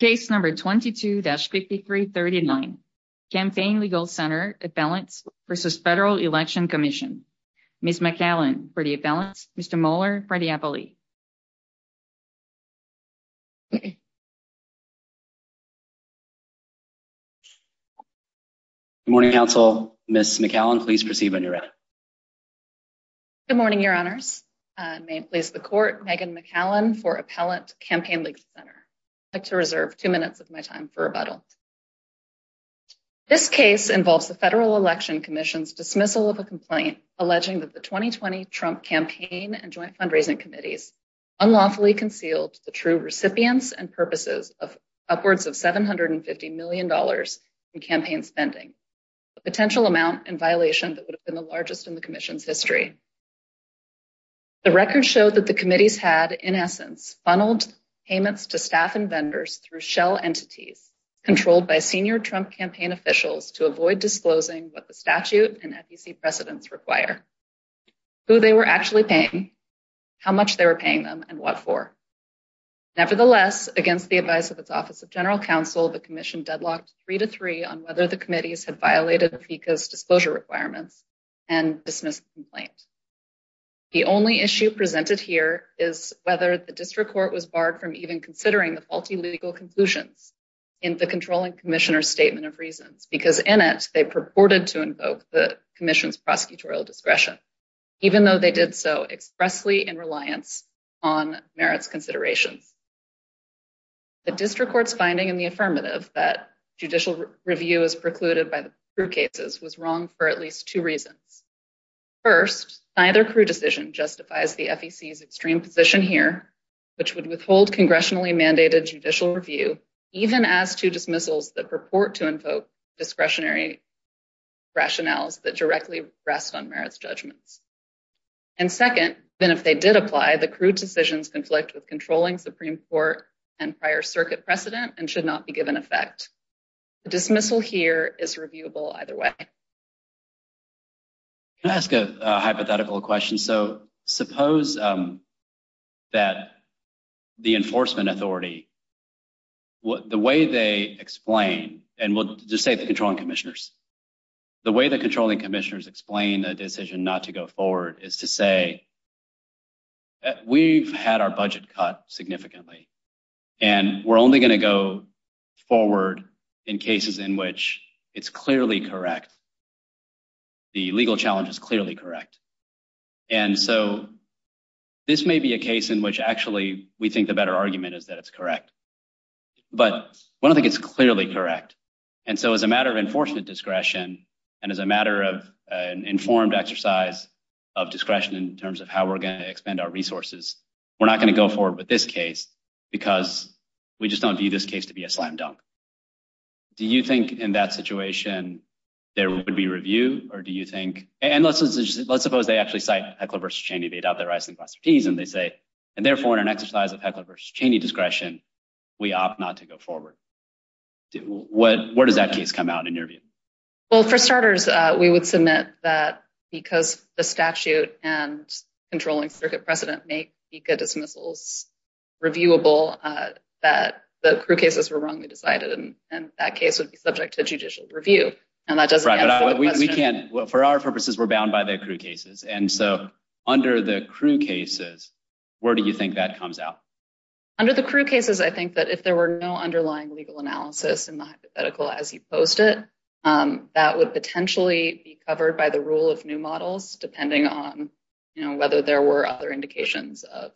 Case number 22-5339, Campaign Legal Center Appellants v. Federal Election Commission. Ms. McCallan for the appellants, Mr. Mohler for the appellee. Good morning, counsel. Ms. McCallan, please proceed when you're ready. Good morning, your honors. May it please the court, Megan McCallan for Appellant, Campaign Legal Center. I'd like to reserve two minutes of my time for rebuttal. This case involves the Federal Election Commission's dismissal of a complaint alleging that the 2020 Trump campaign and joint fundraising committees unlawfully concealed the true recipients and purposes of upwards of 750 million dollars in campaign spending, a potential amount in violation that would have been the largest in the commission's history. The record showed that the committees had, in essence, funneled payments to staff and vendors through shell entities controlled by senior Trump campaign officials to avoid disclosing what the statute and FEC precedents require, who they were actually paying, how much they were paying them, and what for. Nevertheless, against the advice of its Office of General Counsel, the commission deadlocked three to three on whether the committees had violated FECA's disclosure requirements and dismissed the complaint. The only issue presented here is whether the district court was barred from even considering the faulty legal conclusions in the controlling commissioner's statement of reasons, because in it, they purported to invoke the commission's prosecutorial discretion, even though they did so expressly in reliance on merits considerations. The district court's finding in the affirmative that judicial review is precluded by the reasons. First, neither crude decision justifies the FEC's extreme position here, which would withhold congressionally mandated judicial review, even as to dismissals that purport to invoke discretionary rationales that directly rest on merits judgments. And second, then, if they did apply, the crude decisions conflict with controlling Supreme Court and prior circuit precedent and should not be given effect. The dismissal here is reviewable either way. Can I ask a hypothetical question? So suppose that the enforcement authority, the way they explain, and we'll just say the controlling commissioners, the way the controlling commissioners explain a decision not to go forward is to say we've had our budget cut significantly and we're only going to go forward in cases in which it's clearly correct, the legal challenge is clearly correct. And so this may be a case in which actually we think the better argument is that it's correct. But we don't think it's clearly correct. And so as a matter of enforcement discretion and as a matter of an informed exercise of discretion in terms of how we're going to expend our resources, we're not going to go forward with this case because we just don't view this case to be a slam dunk. Do you think, in that situation, there would be review? Or do you think, and let's suppose they actually cite Heckler v. Cheney, they'd have their eyes on the glass of teas, and they say, and therefore, in an exercise of Heckler v. Cheney discretion, we opt not to go forward. Where does that case come out in your view? Well, for starters, we would submit that because the statute and controlling circuit precedent make FICA dismissals reviewable, that the crude cases were wrongly subject to judicial review. And that doesn't answer the question. Right, but we can't, for our purposes, we're bound by the crude cases. And so under the crude cases, where do you think that comes out? Under the crude cases, I think that if there were no underlying legal analysis in the hypothetical as you posed it, that would potentially be covered by the rule of new models depending on, you know, whether there were other indications of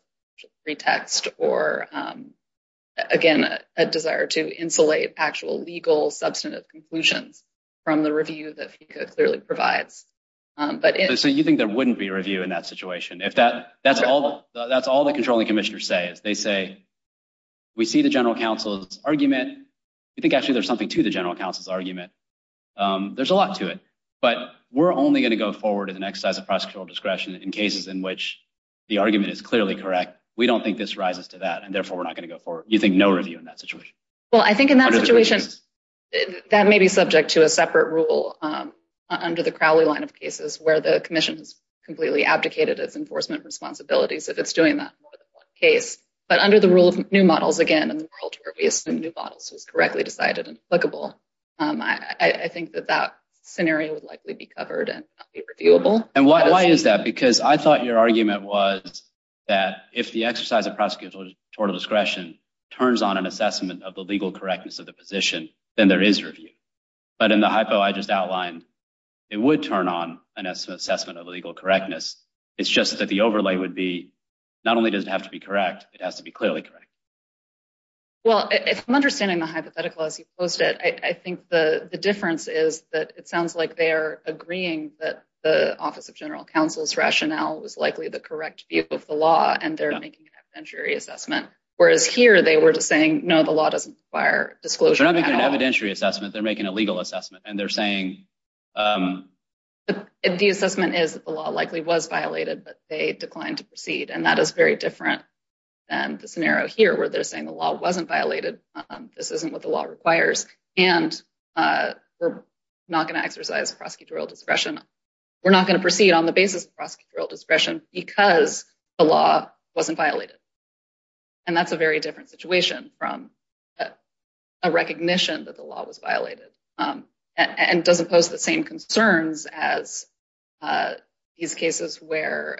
substantive conclusions from the review that FICA clearly provides. So you think there wouldn't be review in that situation? That's all the controlling commissioners say, is they say, we see the general counsel's argument. You think actually there's something to the general counsel's argument. There's a lot to it. But we're only going to go forward in an exercise of prosecutorial discretion in cases in which the argument is clearly correct. We don't think this rises to that, and therefore, we're not going to go forward. You think no review in that situation? Well, I think in that situation, that may be subject to a separate rule under the Crowley line of cases where the commission has completely abdicated its enforcement responsibilities if it's doing that more than one case. But under the rule of new models, again, in the world where we assume new models was correctly decided and applicable, I think that that scenario would likely be covered and not be reviewable. And why is that? Because I thought your argument was that if the exercise of prosecutorial discretion turns on an assessment of the legal correctness of the position, then there is review. But in the hypo I just outlined, it would turn on an assessment of legal correctness. It's just that the overlay would be, not only does it have to be correct, it has to be clearly correct. Well, if I'm understanding the hypothetical as you posed it, I think the difference is that it sounds like they're agreeing that the office of general counsel's rationale was likely the correct view of the law, and they're making an evidentiary assessment. Whereas here, they were just saying, no, the law doesn't require disclosure. They're not making an evidentiary assessment. They're making a legal assessment. And they're saying... The assessment is that the law likely was violated, but they declined to proceed. And that is very different than the scenario here, where they're saying the law wasn't violated. This isn't what the law requires. And we're not going to exercise prosecutorial discretion. We're not going to proceed on the basis of prosecutorial discretion because the law wasn't violated. And that's a very different situation from a recognition that the law was violated. And it doesn't pose the same concerns as these cases where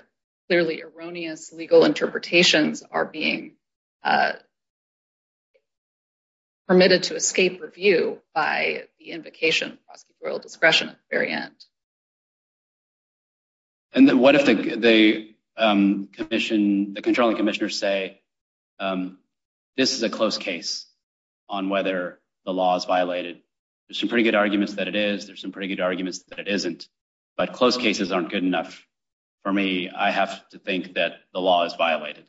clearly erroneous legal interpretations are being permitted to escape review by the invocation of prosecutorial discretion at the very end. And then what if the commission, the controlling commissioners say this is a close case on whether the law is violated? There's some pretty good arguments that it is. There's some pretty good arguments that it isn't. But close cases aren't good enough for me. I have to think that the law is violated.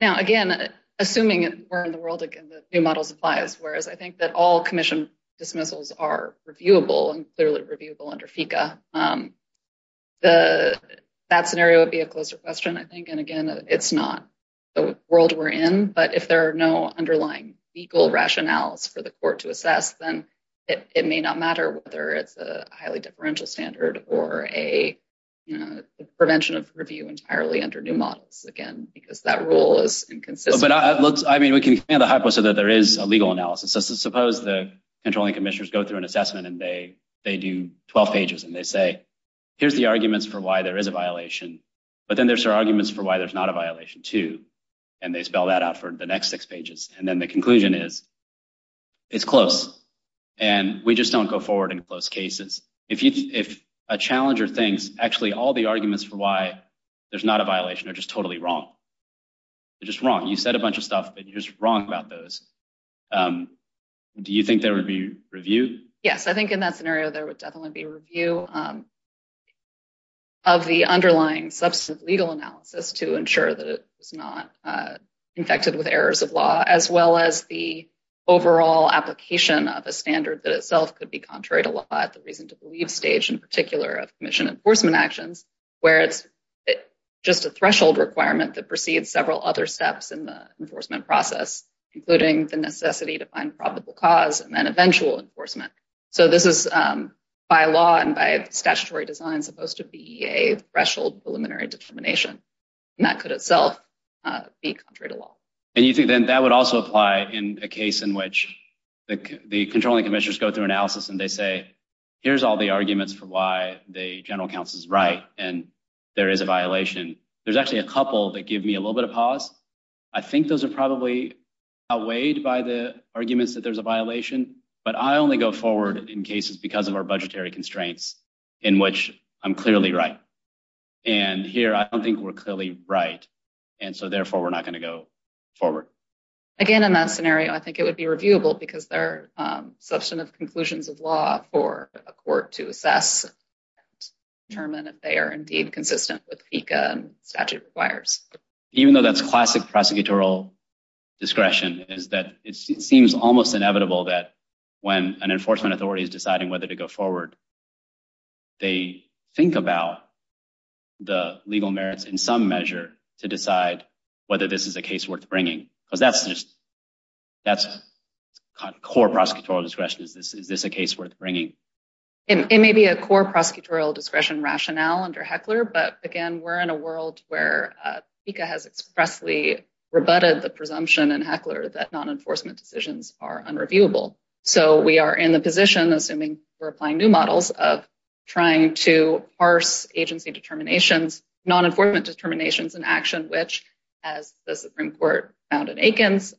Now, again, assuming we're in the world again, the new model applies. Whereas I think that all commission dismissals are reviewable and clearly reviewable under FICA. That scenario would be a closer question, I think. And again, it's not the world we're in. But if there are no underlying legal rationales for the court to assess, then it may not matter whether it's a highly differential standard or a prevention of review entirely under new models, again, because that rule is inconsistent. But I mean, we can have a hypothesis that there is a legal analysis. So suppose the controlling commissioners go through an assessment and they do 12 pages and they say, here's the arguments for why there is a violation. But then there's arguments for why there's not a violation too. And they spell that out for the next six pages. And then the conclusion is, it's close. And we just don't go forward in close cases. If a challenger thinks, actually, all the arguments for why there's not a violation are just totally wrong. They're just wrong. You said a bunch of stuff, but you're just wrong about those. Do you think there would be review? Yes. I think in that scenario, there would definitely be review of the underlying substantive legal analysis to ensure that it was not infected with errors of law, as well as the overall application of a standard that itself could be contrary to law at the reason to believe stage, in particular, of commission enforcement actions, where it's just a threshold requirement that several other steps in the enforcement process, including the necessity to find probable cause and then eventual enforcement. So this is by law and by statutory design supposed to be a threshold preliminary determination. And that could itself be contrary to law. And you think then that would also apply in a case in which the controlling commissioners go through analysis and they say, here's all the arguments for why the general counsel is right. And there is a violation. There's actually a couple that give me a little bit of pause. I think those are probably outweighed by the arguments that there's a violation, but I only go forward in cases because of our budgetary constraints in which I'm clearly right. And here, I don't think we're clearly right. And so therefore, we're not going to go forward. Again, in that scenario, I think it would be reviewable because they're substantive conclusions of law for a court to assess and determine if they are indeed consistent with FECA and statute requires. Even though that's classic prosecutorial discretion is that it seems almost inevitable that when an enforcement authority is deciding whether to go forward, they think about the legal merits in some measure to decide whether this is a case worth bringing because that's core prosecutorial discretion. Is this a case worth bringing? It may be a core prosecutorial discretion rationale under Heckler, but again, we're in a world where FECA has expressly rebutted the presumption in Heckler that non-enforcement decisions are unreviewable. So we are in the position, assuming we're applying new models, of trying to parse agency determinations, non-enforcement determinations in action, which as the Supreme Court found in Aikens,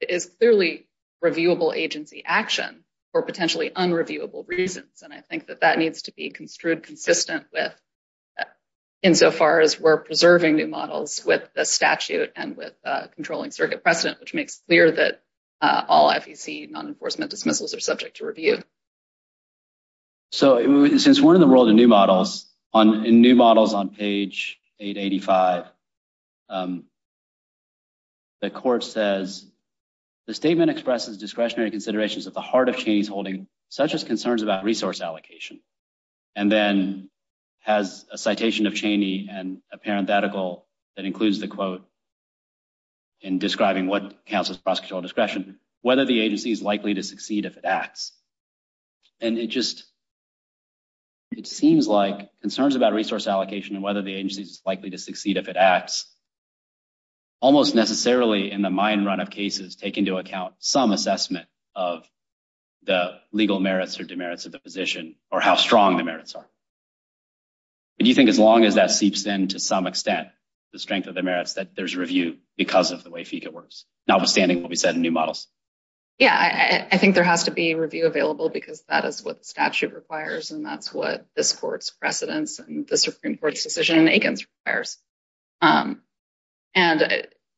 is clearly reviewable agency action for potentially unreviewable reasons. And I think that that needs to be construed consistent with insofar as we're preserving new models with the statute and with controlling circuit precedent, which makes clear that all FEC non-enforcement dismissals are subject to review. So since we're in the world of new models, in new models on page 885, the court says, the statement expresses discretionary considerations at the heart of Cheney's holding, such as concerns about resource allocation, and then has a citation of Cheney and a parenthetical that includes the quote in describing what counts as prosecutorial discretion, whether the agency is likely to succeed if it acts. And it just, it seems like concerns about resource allocation and whether the agency is likely to succeed if it acts, almost necessarily in the mine run of cases, take into account some assessment of the legal merits or demerits of the position or how strong the merits are. And you think as long as that seeps in to some extent, the strength of the merits, that there's review because of the way FECA works, notwithstanding what we said in new models? Yeah, I think there has to be review available because that is what the statute requires, and that's what this court's precedence and the Supreme Court's decision in Aikens requires. And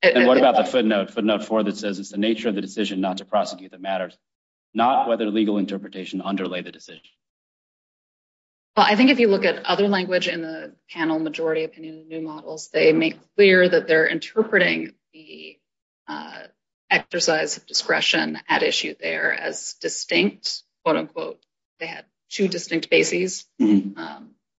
what about the footnote, footnote four, that says it's the nature of the decision not to prosecute that matters, not whether legal interpretation underlay the decision. Well, I think if you look at other language in the panel, majority opinion new models, they make clear that they're interpreting the exercise of discretion at issue there as distinct, quote unquote, they had two distinct bases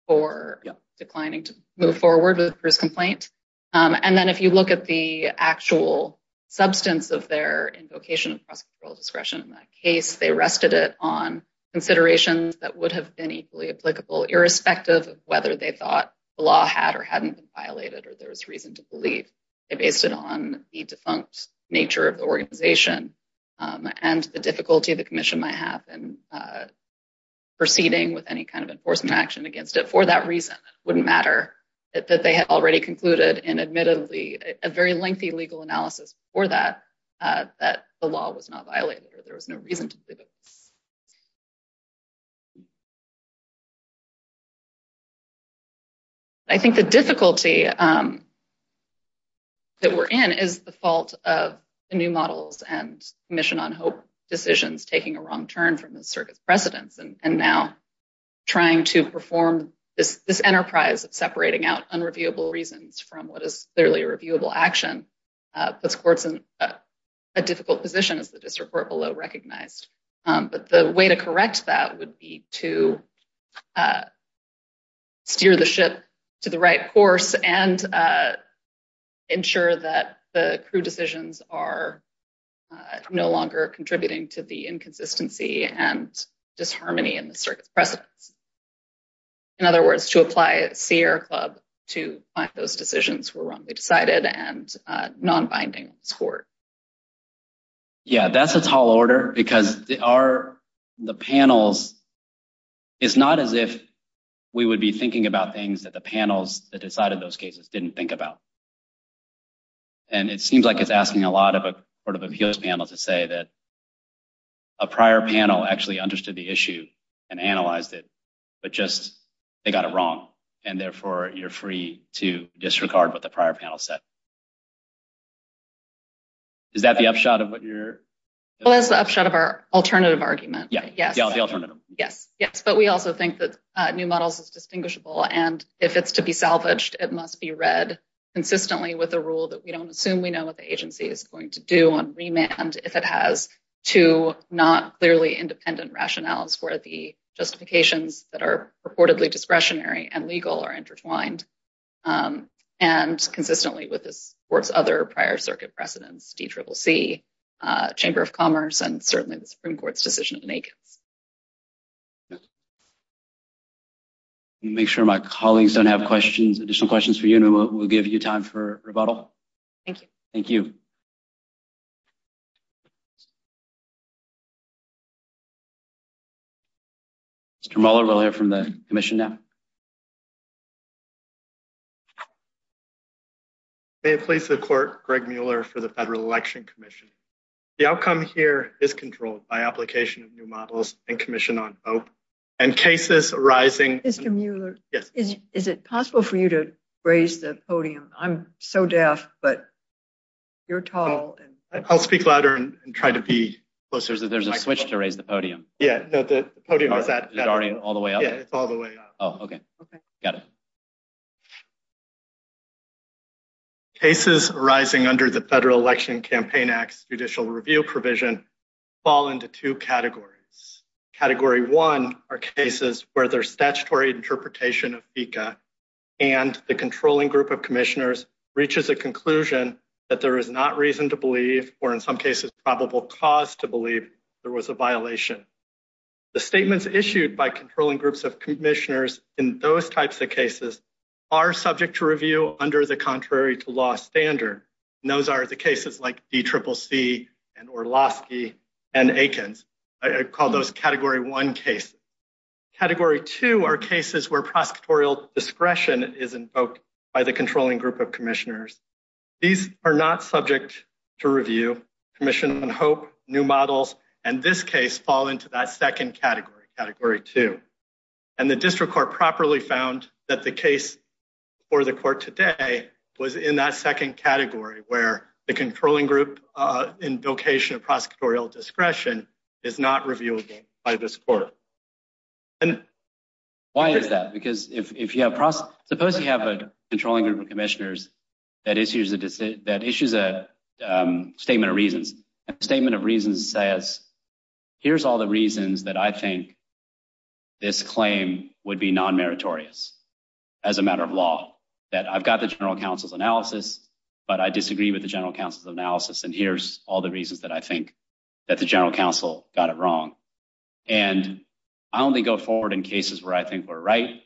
for declining to move forward with the first complaint. And then if you look at the actual substance of their invocation of prosecutorial discretion in that case, they rested it on considerations that would have been equally applicable, irrespective of whether they thought the law had or hadn't been violated, or there was reason to believe. They based it on the defunct nature of the organization and the difficulty the commission might have in proceeding with any kind of enforcement action against it for that reason. It wouldn't matter that they had already concluded in admittedly a very lengthy legal analysis for that, that the law was not violated, or there was no reason to believe it was. I think the difficulty that we're in is the fault of the new models and mission on hope decisions taking a wrong turn from the circuit's precedents and now trying to perform this enterprise of separating out unreviewable reasons from what is clearly reviewable action puts courts in a difficult position, as the district court below recognized. But the way to correct that would be to steer the ship to the right course and ensure that the crew decisions are no longer contributing to the inconsistency and disharmony in the circuit's precedents. In other words, to apply at Sierra Club to find those cited and non-binding score. Yeah, that's a tall order, because the panels, it's not as if we would be thinking about things that the panels that decided those cases didn't think about. And it seems like it's asking a lot of a sort of appeals panel to say that a prior panel actually understood the issue and analyzed it, but just they got it wrong, and therefore you're free to disregard what the prior panel said. Is that the upshot of what you're? Well, that's the upshot of our alternative argument. Yeah, yes. Yeah, the alternative. Yes, yes. But we also think that new models is distinguishable, and if it's to be salvaged, it must be read consistently with a rule that we don't assume we know what the agency is going to do on remand if it has two not clearly independent rationales where the justifications that are purportedly discretionary and legal are intertwined. And consistently with this court's other prior circuit precedents, DCCC, Chamber of Commerce, and certainly the Supreme Court's decision of Nakens. Make sure my colleagues don't have questions, additional questions for you, and we'll give you time for rebuttal. Thank you. Thank you. Mr. Mueller, we'll hear from the commission now. May it please the court, Greg Mueller for the Federal Election Commission. The outcome here is controlled by application of new models and commission on vote and cases arising. Mr. Mueller. Yes. Is it possible for you to raise the podium? I'm so deaf, but you're tall. I'll speak louder and try to be closer. There's a switch to raise the podium. Yeah, no, the podium is that already all the way up? Yeah, it's all the way up. Oh, okay. Okay. Got it. Cases rising under the Federal Election Campaign Act's judicial review provision fall into two categories. Category one are cases where there's statutory interpretation of FECA and the controlling group of commissioners reaches a conclusion that there is not reason to believe, or in some cases, probable cause to believe there was a violation. The statements issued by controlling groups of commissioners in those types of cases are subject to review under the contrary to law standard. And those are the cases like DCCC and Orlowski and Akins. I call those category one cases. Category two are cases where prosecutorial discretion is invoked by the controlling group of commissioners. These are not subject to review. Commission on Hope, New Models, and this case fall into that second category, category two. And the district court properly found that the case for the court today was in that second category where the controlling group in vocation of prosecutorial discretion is not reviewable by this court. And why is that? Because if you have, suppose you have a controlling group of commissioners that issues a statement of reasons. A statement of reasons says, here's all the reasons that I think this claim would be non-meritorious as a matter of law. That I've got the general counsel's analysis, but I disagree with the general counsel's analysis, and here's all the reasons that I think that the general counsel got it wrong. And I only go forward in cases where I think we're right,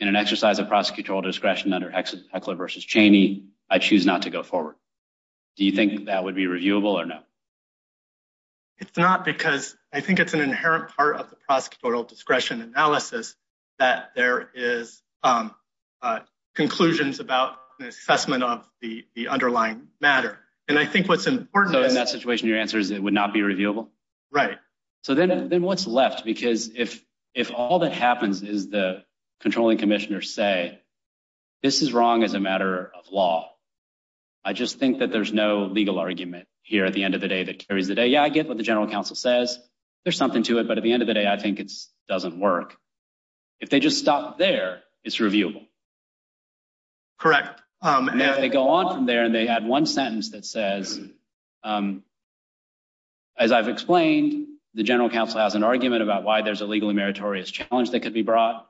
in an exercise of prosecutorial discretion under Heckler v. Cheney, I choose not to go forward. Do you think that would be reviewable or no? It's not because I think it's an inherent part of the prosecutorial discretion analysis that there is conclusions about the assessment of the underlying matter. And I think what's important- So in that situation, your answer is it would not be reviewable? Right. So then what's left? Because if all that happens is the controlling commissioners say, this is wrong as a matter of law. I just think that there's no legal argument here at the end of the day that carries the day. Yeah, I get what the general counsel says. There's something to it. But at the end of the day, I think it doesn't work. If they just stop there, it's reviewable. Correct. And if they go on from there and they add one sentence that says, as I've explained, the general counsel has an argument about why there's a legally meritorious challenge that could be brought,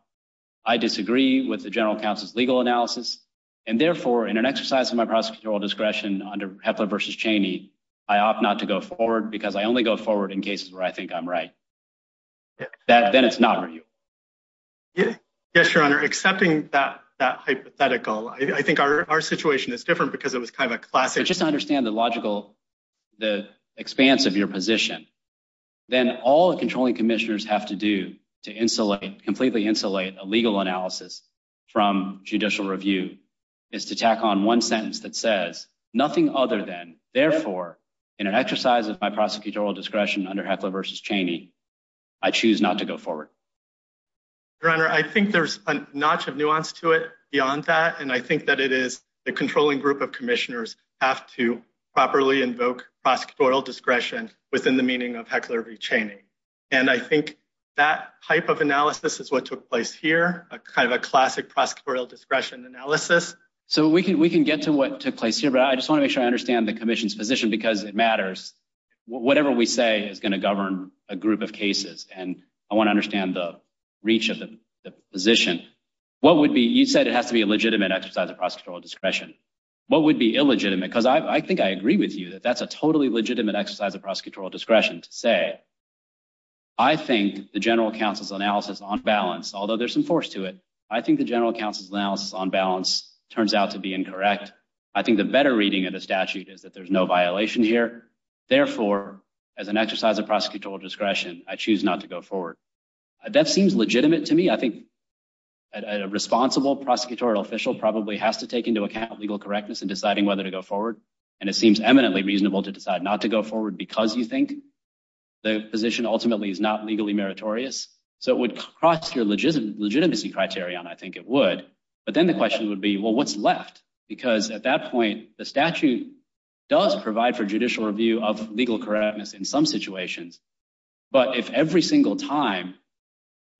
I disagree with the general counsel's legal analysis. And therefore, in an exercise of my prosecutorial discretion under Heckler v. Cheney, I opt not to go forward because I only go forward in cases where I think I'm right. Then it's not reviewable. Yes, Your Honor. Accepting that hypothetical, I think our situation is different because it was kind of a classic- Just to understand the logical, the expanse of your position, then all the controlling commissioners have to do to completely insulate a legal analysis from judicial review is to tack on one sentence that says nothing other than, therefore, in an exercise of my prosecutorial discretion under Heckler v. Cheney, I choose not to go forward. Your Honor, I think there's a notch of nuance to it beyond that. And I think that it is the controlling group of commissioners have to properly invoke prosecutorial discretion within the meaning of Heckler v. Cheney. And I think that type of analysis is what took place here, kind of a classic prosecutorial discretion analysis. So we can get to what took place here, but I just want to make sure I understand the commission's position because it matters. Whatever we say is going to govern a group of cases. And I want to understand the reach of the position. You said it has to be a legitimate exercise of that's a totally legitimate exercise of prosecutorial discretion to say, I think the general counsel's analysis on balance, although there's some force to it, I think the general counsel's analysis on balance turns out to be incorrect. I think the better reading of the statute is that there's no violation here. Therefore, as an exercise of prosecutorial discretion, I choose not to go forward. That seems legitimate to me. I think a responsible prosecutorial official probably has to take into account legal correctness in eminently reasonable to decide not to go forward because you think the position ultimately is not legally meritorious. So it would cross your legitimate legitimacy criterion. I think it would. But then the question would be, well, what's left? Because at that point, the statute does provide for judicial review of legal correctness in some situations. But if every single time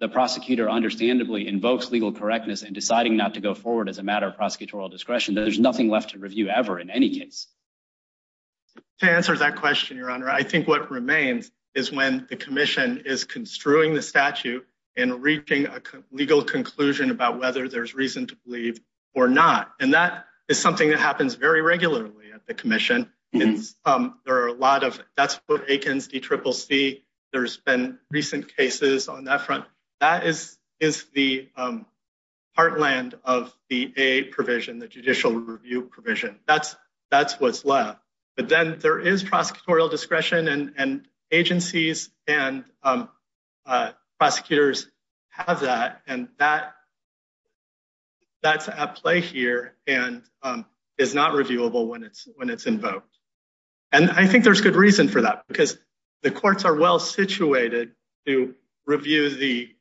the prosecutor understandably invokes legal correctness and deciding not to go forward as a matter of prosecutorial discretion, there's nothing left to review ever in any case. To answer that question, Your Honor, I think what remains is when the commission is construing the statute and reaching a legal conclusion about whether there's reason to believe or not. And that is something that happens very regularly at the commission. There are a lot of, that's what Aikens, DCCC, there's been recent cases on that front. That is the heartland of the A provision, the judicial review provision. That's what's left. But then there is prosecutorial discretion and agencies and prosecutors have that. And that's at play here and is not reviewable when it's invoked. And I think there's good reason for that because the courts are well situated to review the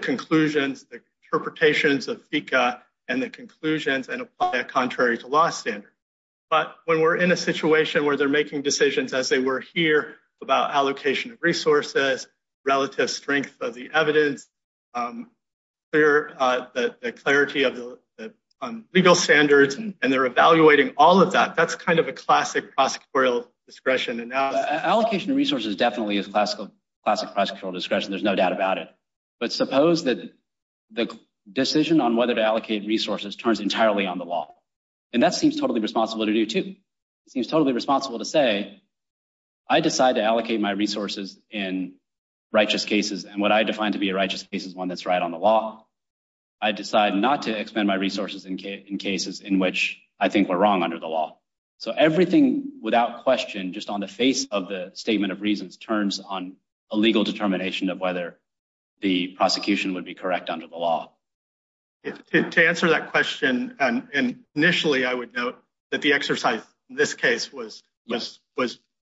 conclusions, the interpretations of FECA and the conclusions and apply a contrary to law standard. But when we're in a situation where they're making decisions as they were here about allocation of resources, relative strength of the evidence, the clarity of the legal standards, and they're evaluating all of that, that's kind of a classic prosecutorial discretion. Allocation of resources definitely is classic prosecutorial discretion, there's no doubt about it. But suppose that the decision on whether to allocate resources turns entirely on the law. And that seems totally responsible to do too. It seems totally responsible to say, I decide to allocate my resources in righteous cases and what I define to be a righteous case is one that's right on the law. I decide not to expend my resources in cases in which I think we're wrong under the law. So everything without question just on the face of the statement of reasons turns on a legal determination of whether the prosecution would be correct under the law. To answer that question, and initially I would note that the exercise in this case was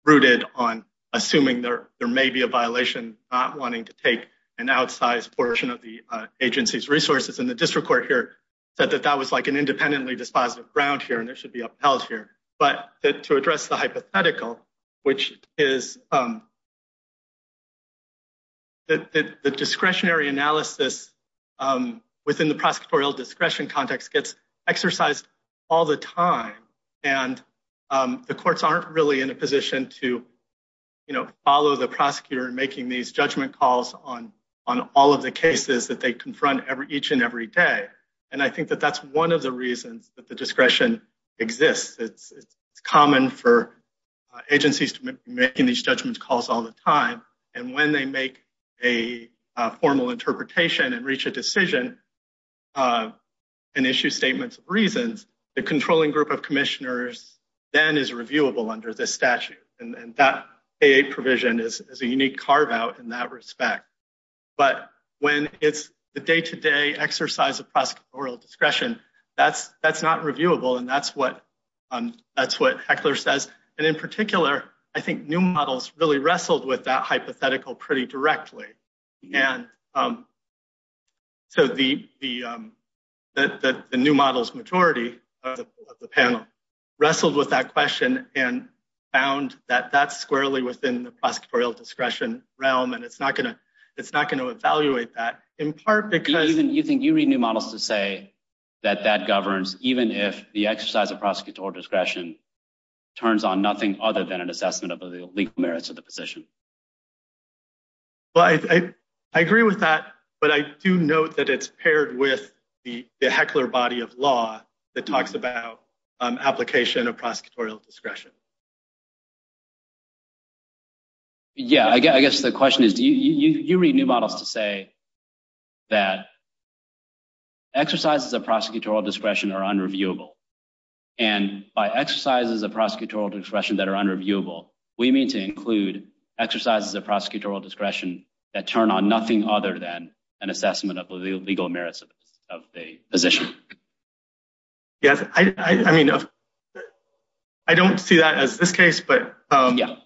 rooted on assuming there may be a violation not wanting to take an outsized portion of the agency's resources. And the district court here said that that was like an independently dispositive ground here and there should be upheld here. But to address the hypothetical, which is that the discretionary analysis within the prosecutorial discretion context gets exercised all the time. And the courts aren't really in a position to follow the prosecutor in making these judgment calls on all of the cases that they confront each and every day. And I think that that's one of the reasons that the discretion exists. It's common for agencies to be making these judgments calls all the time. And when they make a formal interpretation and reach a decision and issue statements of reasons, the controlling group of commissioners then is reviewable under this statute. And that provision is a unique carve out in that respect. But when it's the day-to-day exercise of prosecutorial discretion, that's not reviewable. And that's what Heckler says. And in particular, I think new models really wrestled with that hypothetical pretty directly. And so the new models majority of the panel wrestled with that question and found that that's squarely within the prosecutorial discretion realm. And it's not going to evaluate that in part because- Even you think you read new models to say that that governs even if the exercise of prosecutorial discretion is unreviewable? Well, I agree with that, but I do note that it's paired with the Heckler body of law that talks about application of prosecutorial discretion. Yeah, I guess the question is, do you read new models to say that exercises of prosecutorial discretion are unreviewable? And by exercises of prosecutorial discretion that turn on nothing other than an assessment of the legal merits of a position? Yes. I mean, I don't see that as this case, but- Yeah.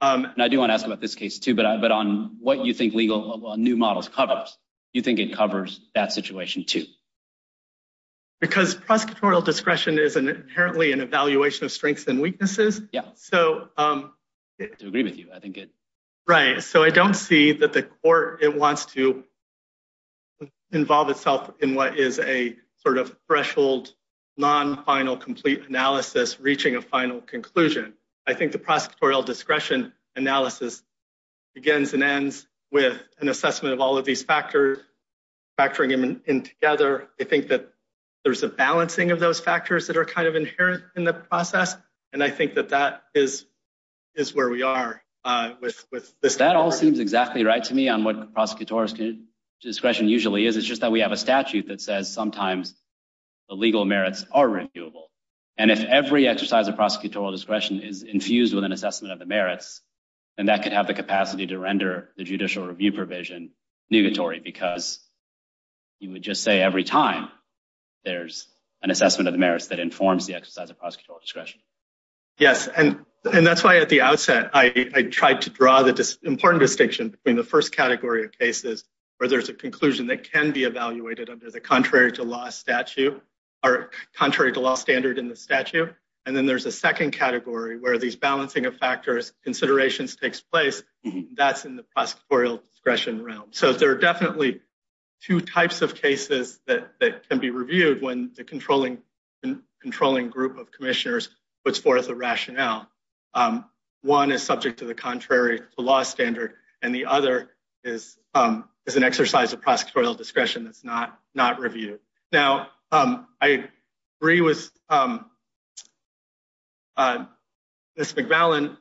And I do want to ask about this case too, but on what you think new models covers, you think it covers that situation too? Because prosecutorial discretion is inherently an evaluation of strengths and weaknesses. Yeah. So- I agree with you. I think it- Right. So I don't see that the court, it wants to involve itself in what is a sort of threshold, non-final complete analysis, reaching a final conclusion. I think the prosecutorial discretion analysis begins and ends with an assessment of all of these factors, factoring them in together. I think that there's a balancing of those factors that are kind of inherent in the process. And I think that that is where we are with this- That all seems exactly right to me on what prosecutorial discretion usually is. It's just that we have a statute that says sometimes the legal merits are reviewable. And if every exercise of prosecutorial discretion is infused with an assessment of the merits, then that could have the capacity to render the judicial review provision negatory because you would just say every time there's an assessment of the merits that informs the exercise of prosecutorial discretion. Yes. And that's why at the outset, I tried to draw the important distinction between the first category of cases where there's a conclusion that can be evaluated under the contrary to law statute or contrary to law standard in the statute. And then there's a second category where these balancing of factors considerations takes place. That's in the prosecutorial discretion realm. So there are definitely two types of cases that can be reviewed when the controlling group of commissioners puts forth a rationale. One is subject to the contrary to law standard, and the other is an exercise of prosecutorial discretion that's not reviewed. Now, I agree with Ms. McAllen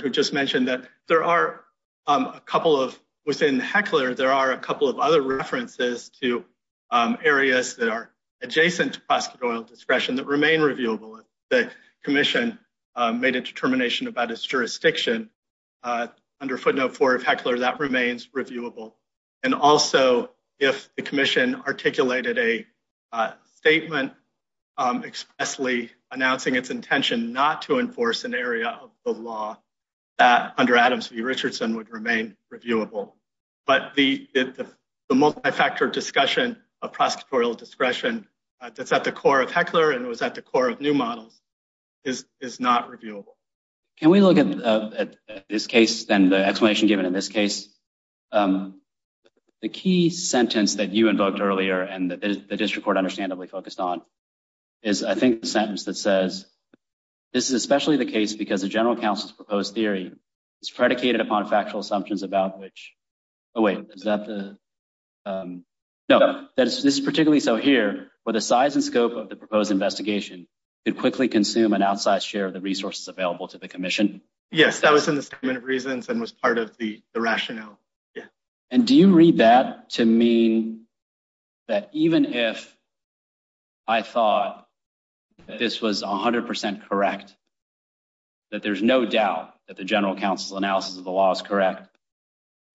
who just mentioned that there are a couple of- Within Heckler, there are a couple of other references to areas that are adjacent to prosecutorial discretion that remain reviewable. The commission made a determination about its jurisdiction under footnote four of Heckler that remains reviewable. And also, if the commission articulated a statement expressly announcing its intention not to enforce an area of the law that under the multi-factor discussion of prosecutorial discretion that's at the core of Heckler and was at the core of new models is not reviewable. Can we look at this case and the explanation given in this case? The key sentence that you invoked earlier and the district court understandably focused on is I think the sentence that says, this is especially the case because the general counsel's proposed theory is predicated upon factual assumptions about which- Wait, is that the- No, this is particularly so here where the size and scope of the proposed investigation could quickly consume an outsized share of the resources available to the commission. Yes, that was in the statement of reasons and was part of the rationale. Yeah. And do you read that to mean that even if I thought that this was 100% correct, that there's no doubt that the general counsel's analysis of the law is correct,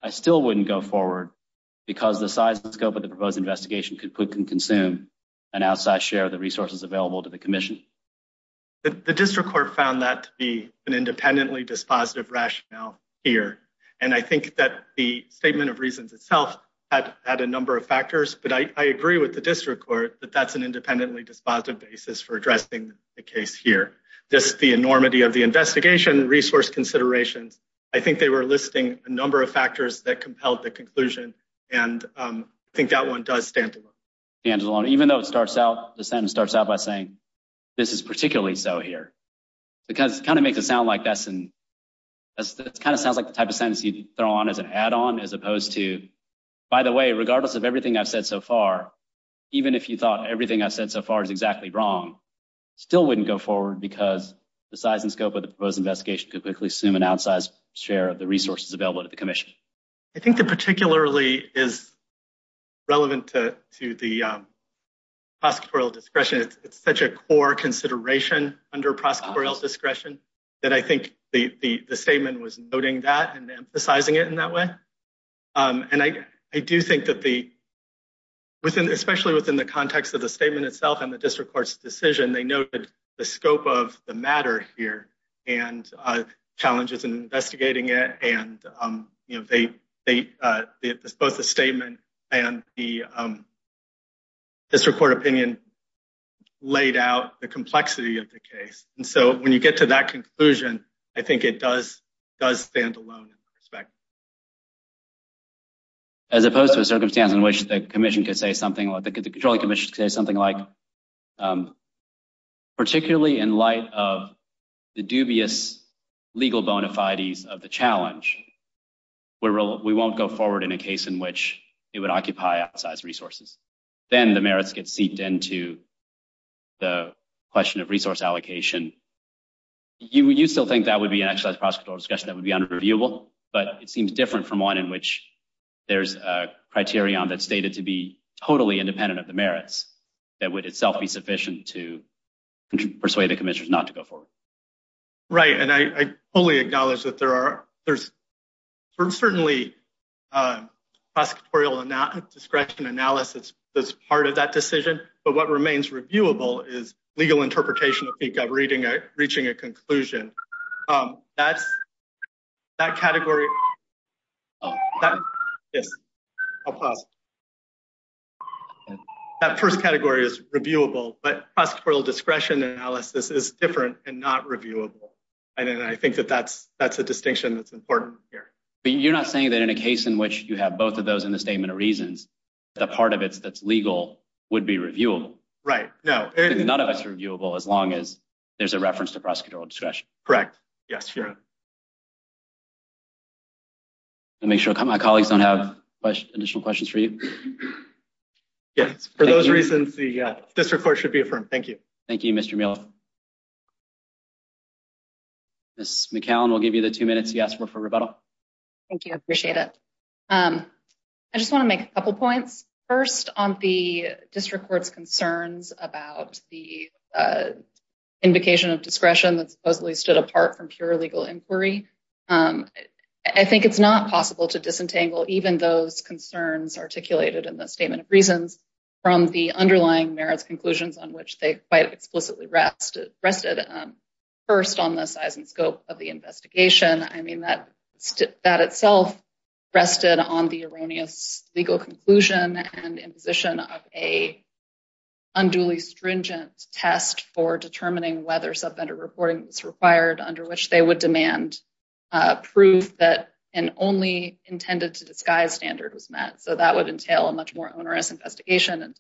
I still wouldn't go forward because the size and scope of the proposed investigation could quickly consume an outsized share of the resources available to the commission? The district court found that to be an independently dispositive rationale here. And I think that the statement of reasons itself had a number of factors, but I agree with the district court that that's an independently dispositive basis for addressing the case here. Just the enormity of the investigation resource considerations, I think they were listing a number of factors that compelled the conclusion, and I think that one does stand alone. Stands alone, even though the sentence starts out by saying, this is particularly so here. Because it kind of makes it sound like that's the type of sentence you'd throw on as an add-on as opposed to, by the way, regardless of everything I've said so far, even if you thought everything I've said so far is exactly wrong, still wouldn't go forward because the size and scope of the proposed investigation could quickly assume an outsized share of the resources available to the commission. I think that particularly is relevant to the prosecutorial discretion. It's such a core consideration under prosecutorial discretion that I think the statement was noting that and emphasizing it in that way. And I do think that especially within the context of the statement itself and the district court's decision, they noted the scope of the matter here and challenges in investigating it. And both the statement and the district court opinion laid out the complexity of the case. And so when you get to that conclusion, I think it does stand alone in that respect. As opposed to a circumstance in which the commission could say something, the controlling commission could say something like, particularly in light of the dubious legal bona fides of the challenge, we won't go forward in a case in which it would occupy outsized resources. Then the merits get seeped into the question of resource allocation. You still think that would be an outsized prosecutorial discretion that would be unreviewable, but it seems different from one in which there's a criterion that's stated to be totally independent of the merits that would itself be sufficient to persuade the commissioners not to go forward. Right. And I fully acknowledge that there's certainly prosecutorial discretion analysis that's part of that decision, but what remains reviewable is legal interpretation of reaching a conclusion. That first category is reviewable, but prosecutorial discretion analysis is different and not reviewable. And I think that that's a distinction that's important here. But you're not saying that in a case in which you have both of those in the statement of reasons, the part of it that's legal would be reviewable? Right. No. None of it's reviewable as long as there's a reference to prosecutorial discretion. Correct. Yes. I'll make sure my colleagues don't have additional questions for you. Yes. For those reasons, the district court should be affirmed. Thank you. Thank you, Mr. Meal. Ms. McCallum, we'll give you the two minutes you asked for for rebuttal. Thank you. I appreciate it. I just want to make a couple points. First, on the district court's legal inquiry, I think it's not possible to disentangle even those concerns articulated in the statement of reasons from the underlying merits conclusions on which they quite explicitly rested. First, on the size and scope of the investigation, I mean, that itself rested on the erroneous legal conclusion and imposition of a unduly stringent test for determining whether subvendor reporting was required under which they would demand proof that an only intended to disguise standard was met. So that would entail a much more onerous investigation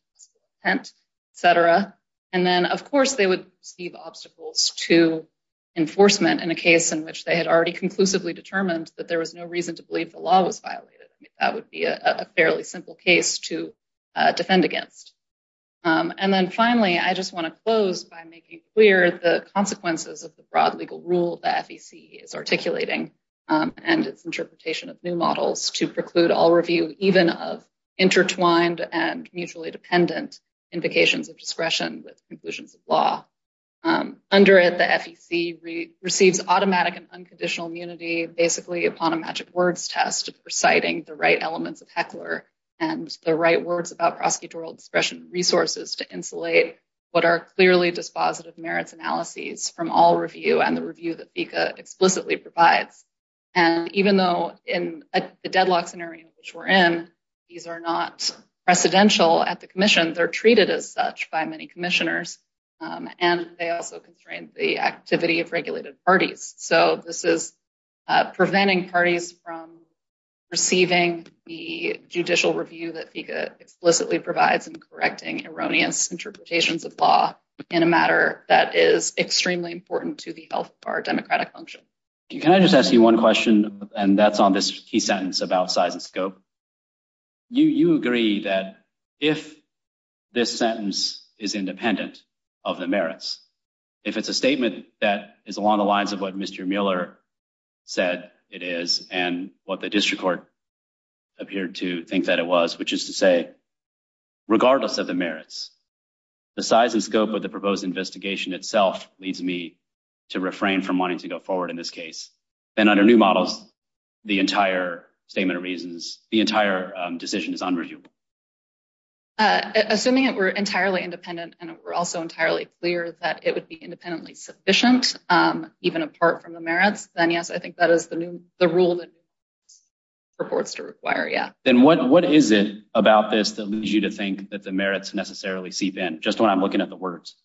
and etc. And then, of course, they would see the obstacles to enforcement in a case in which they had already conclusively determined that there was no reason to believe the law was violated. That would be a fairly simple case to defend against. And then finally, I just want to close by making clear the consequences of the broad legal rule that FEC is articulating and its interpretation of new models to preclude all review, even of intertwined and mutually dependent invocations of discretion with conclusions of law. Under it, the FEC receives automatic and unconditional immunity basically upon a magic words test reciting the right elements of Heckler and the right words about prosecutorial discretion resources to insulate what are clearly dispositive merits analyses from all review and the review that FEC explicitly provides. And even though in the deadlock scenario, which we're in, these are not precedential at the commission, they're treated as such by many commissioners. And they also constrain the activity of regulated parties. So this is preventing parties from receiving the judicial review that FEC explicitly provides and correcting erroneous interpretations of law in a matter that is extremely important to the health of our democratic function. Can I just ask you one question? And that's on this key sentence about size and scope. You agree that if this sentence is independent of the merits, if it's a statement that is along the lines of what Mr. Mueller said it is and what the district court appeared to think that it was, which is to say, regardless of the merits, the size and scope of the proposed investigation itself leads me to refrain from wanting to go forward in this case. And under new models, the entire statement of reasons, the entire decision is unreviewable. Assuming it were entirely independent and it were also entirely clear that it would be independently sufficient, even apart from the merits, then yes, I think that is the new, the rule that reports to require, yeah. Then what is it about this that leads you to think that the merits necessarily seep in? Just when I'm looking at the words.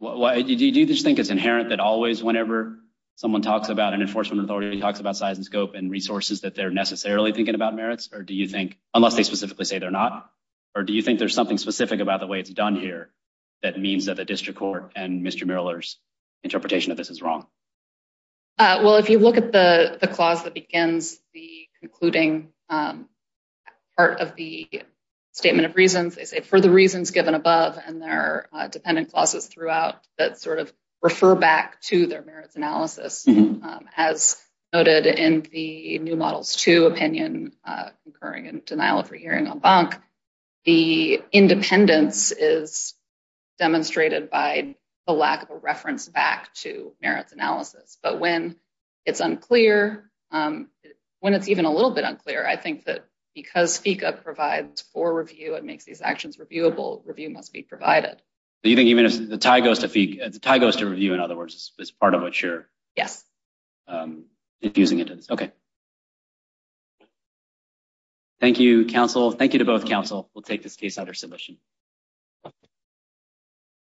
Do you just think it's inherent that always whenever someone talks about an enforcement authority, talks about size and scope and resources that they're necessarily thinking about merits? Or do you think, unless they specifically say they're or do you think there's something specific about the way it's done here that means that the district court and Mr. Mueller's interpretation of this is wrong? Well, if you look at the clause that begins the concluding part of the statement of reasons, they say, for the reasons given above, and there are dependent clauses throughout that sort of refer back to their merits analysis, as noted in the new models to opinion, concurring and denial of hearing on bunk, the independence is demonstrated by the lack of a reference back to merits analysis. But when it's unclear, when it's even a little bit unclear, I think that because FECA provides for review and makes these actions reviewable, review must be provided. Do you think even if the tie goes to FECA, the tie goes to review, in other words, is part of what you're- Yes. I'm infusing into this. Okay. Thank you, counsel. Thank you to both counsel. We'll take this case under submission.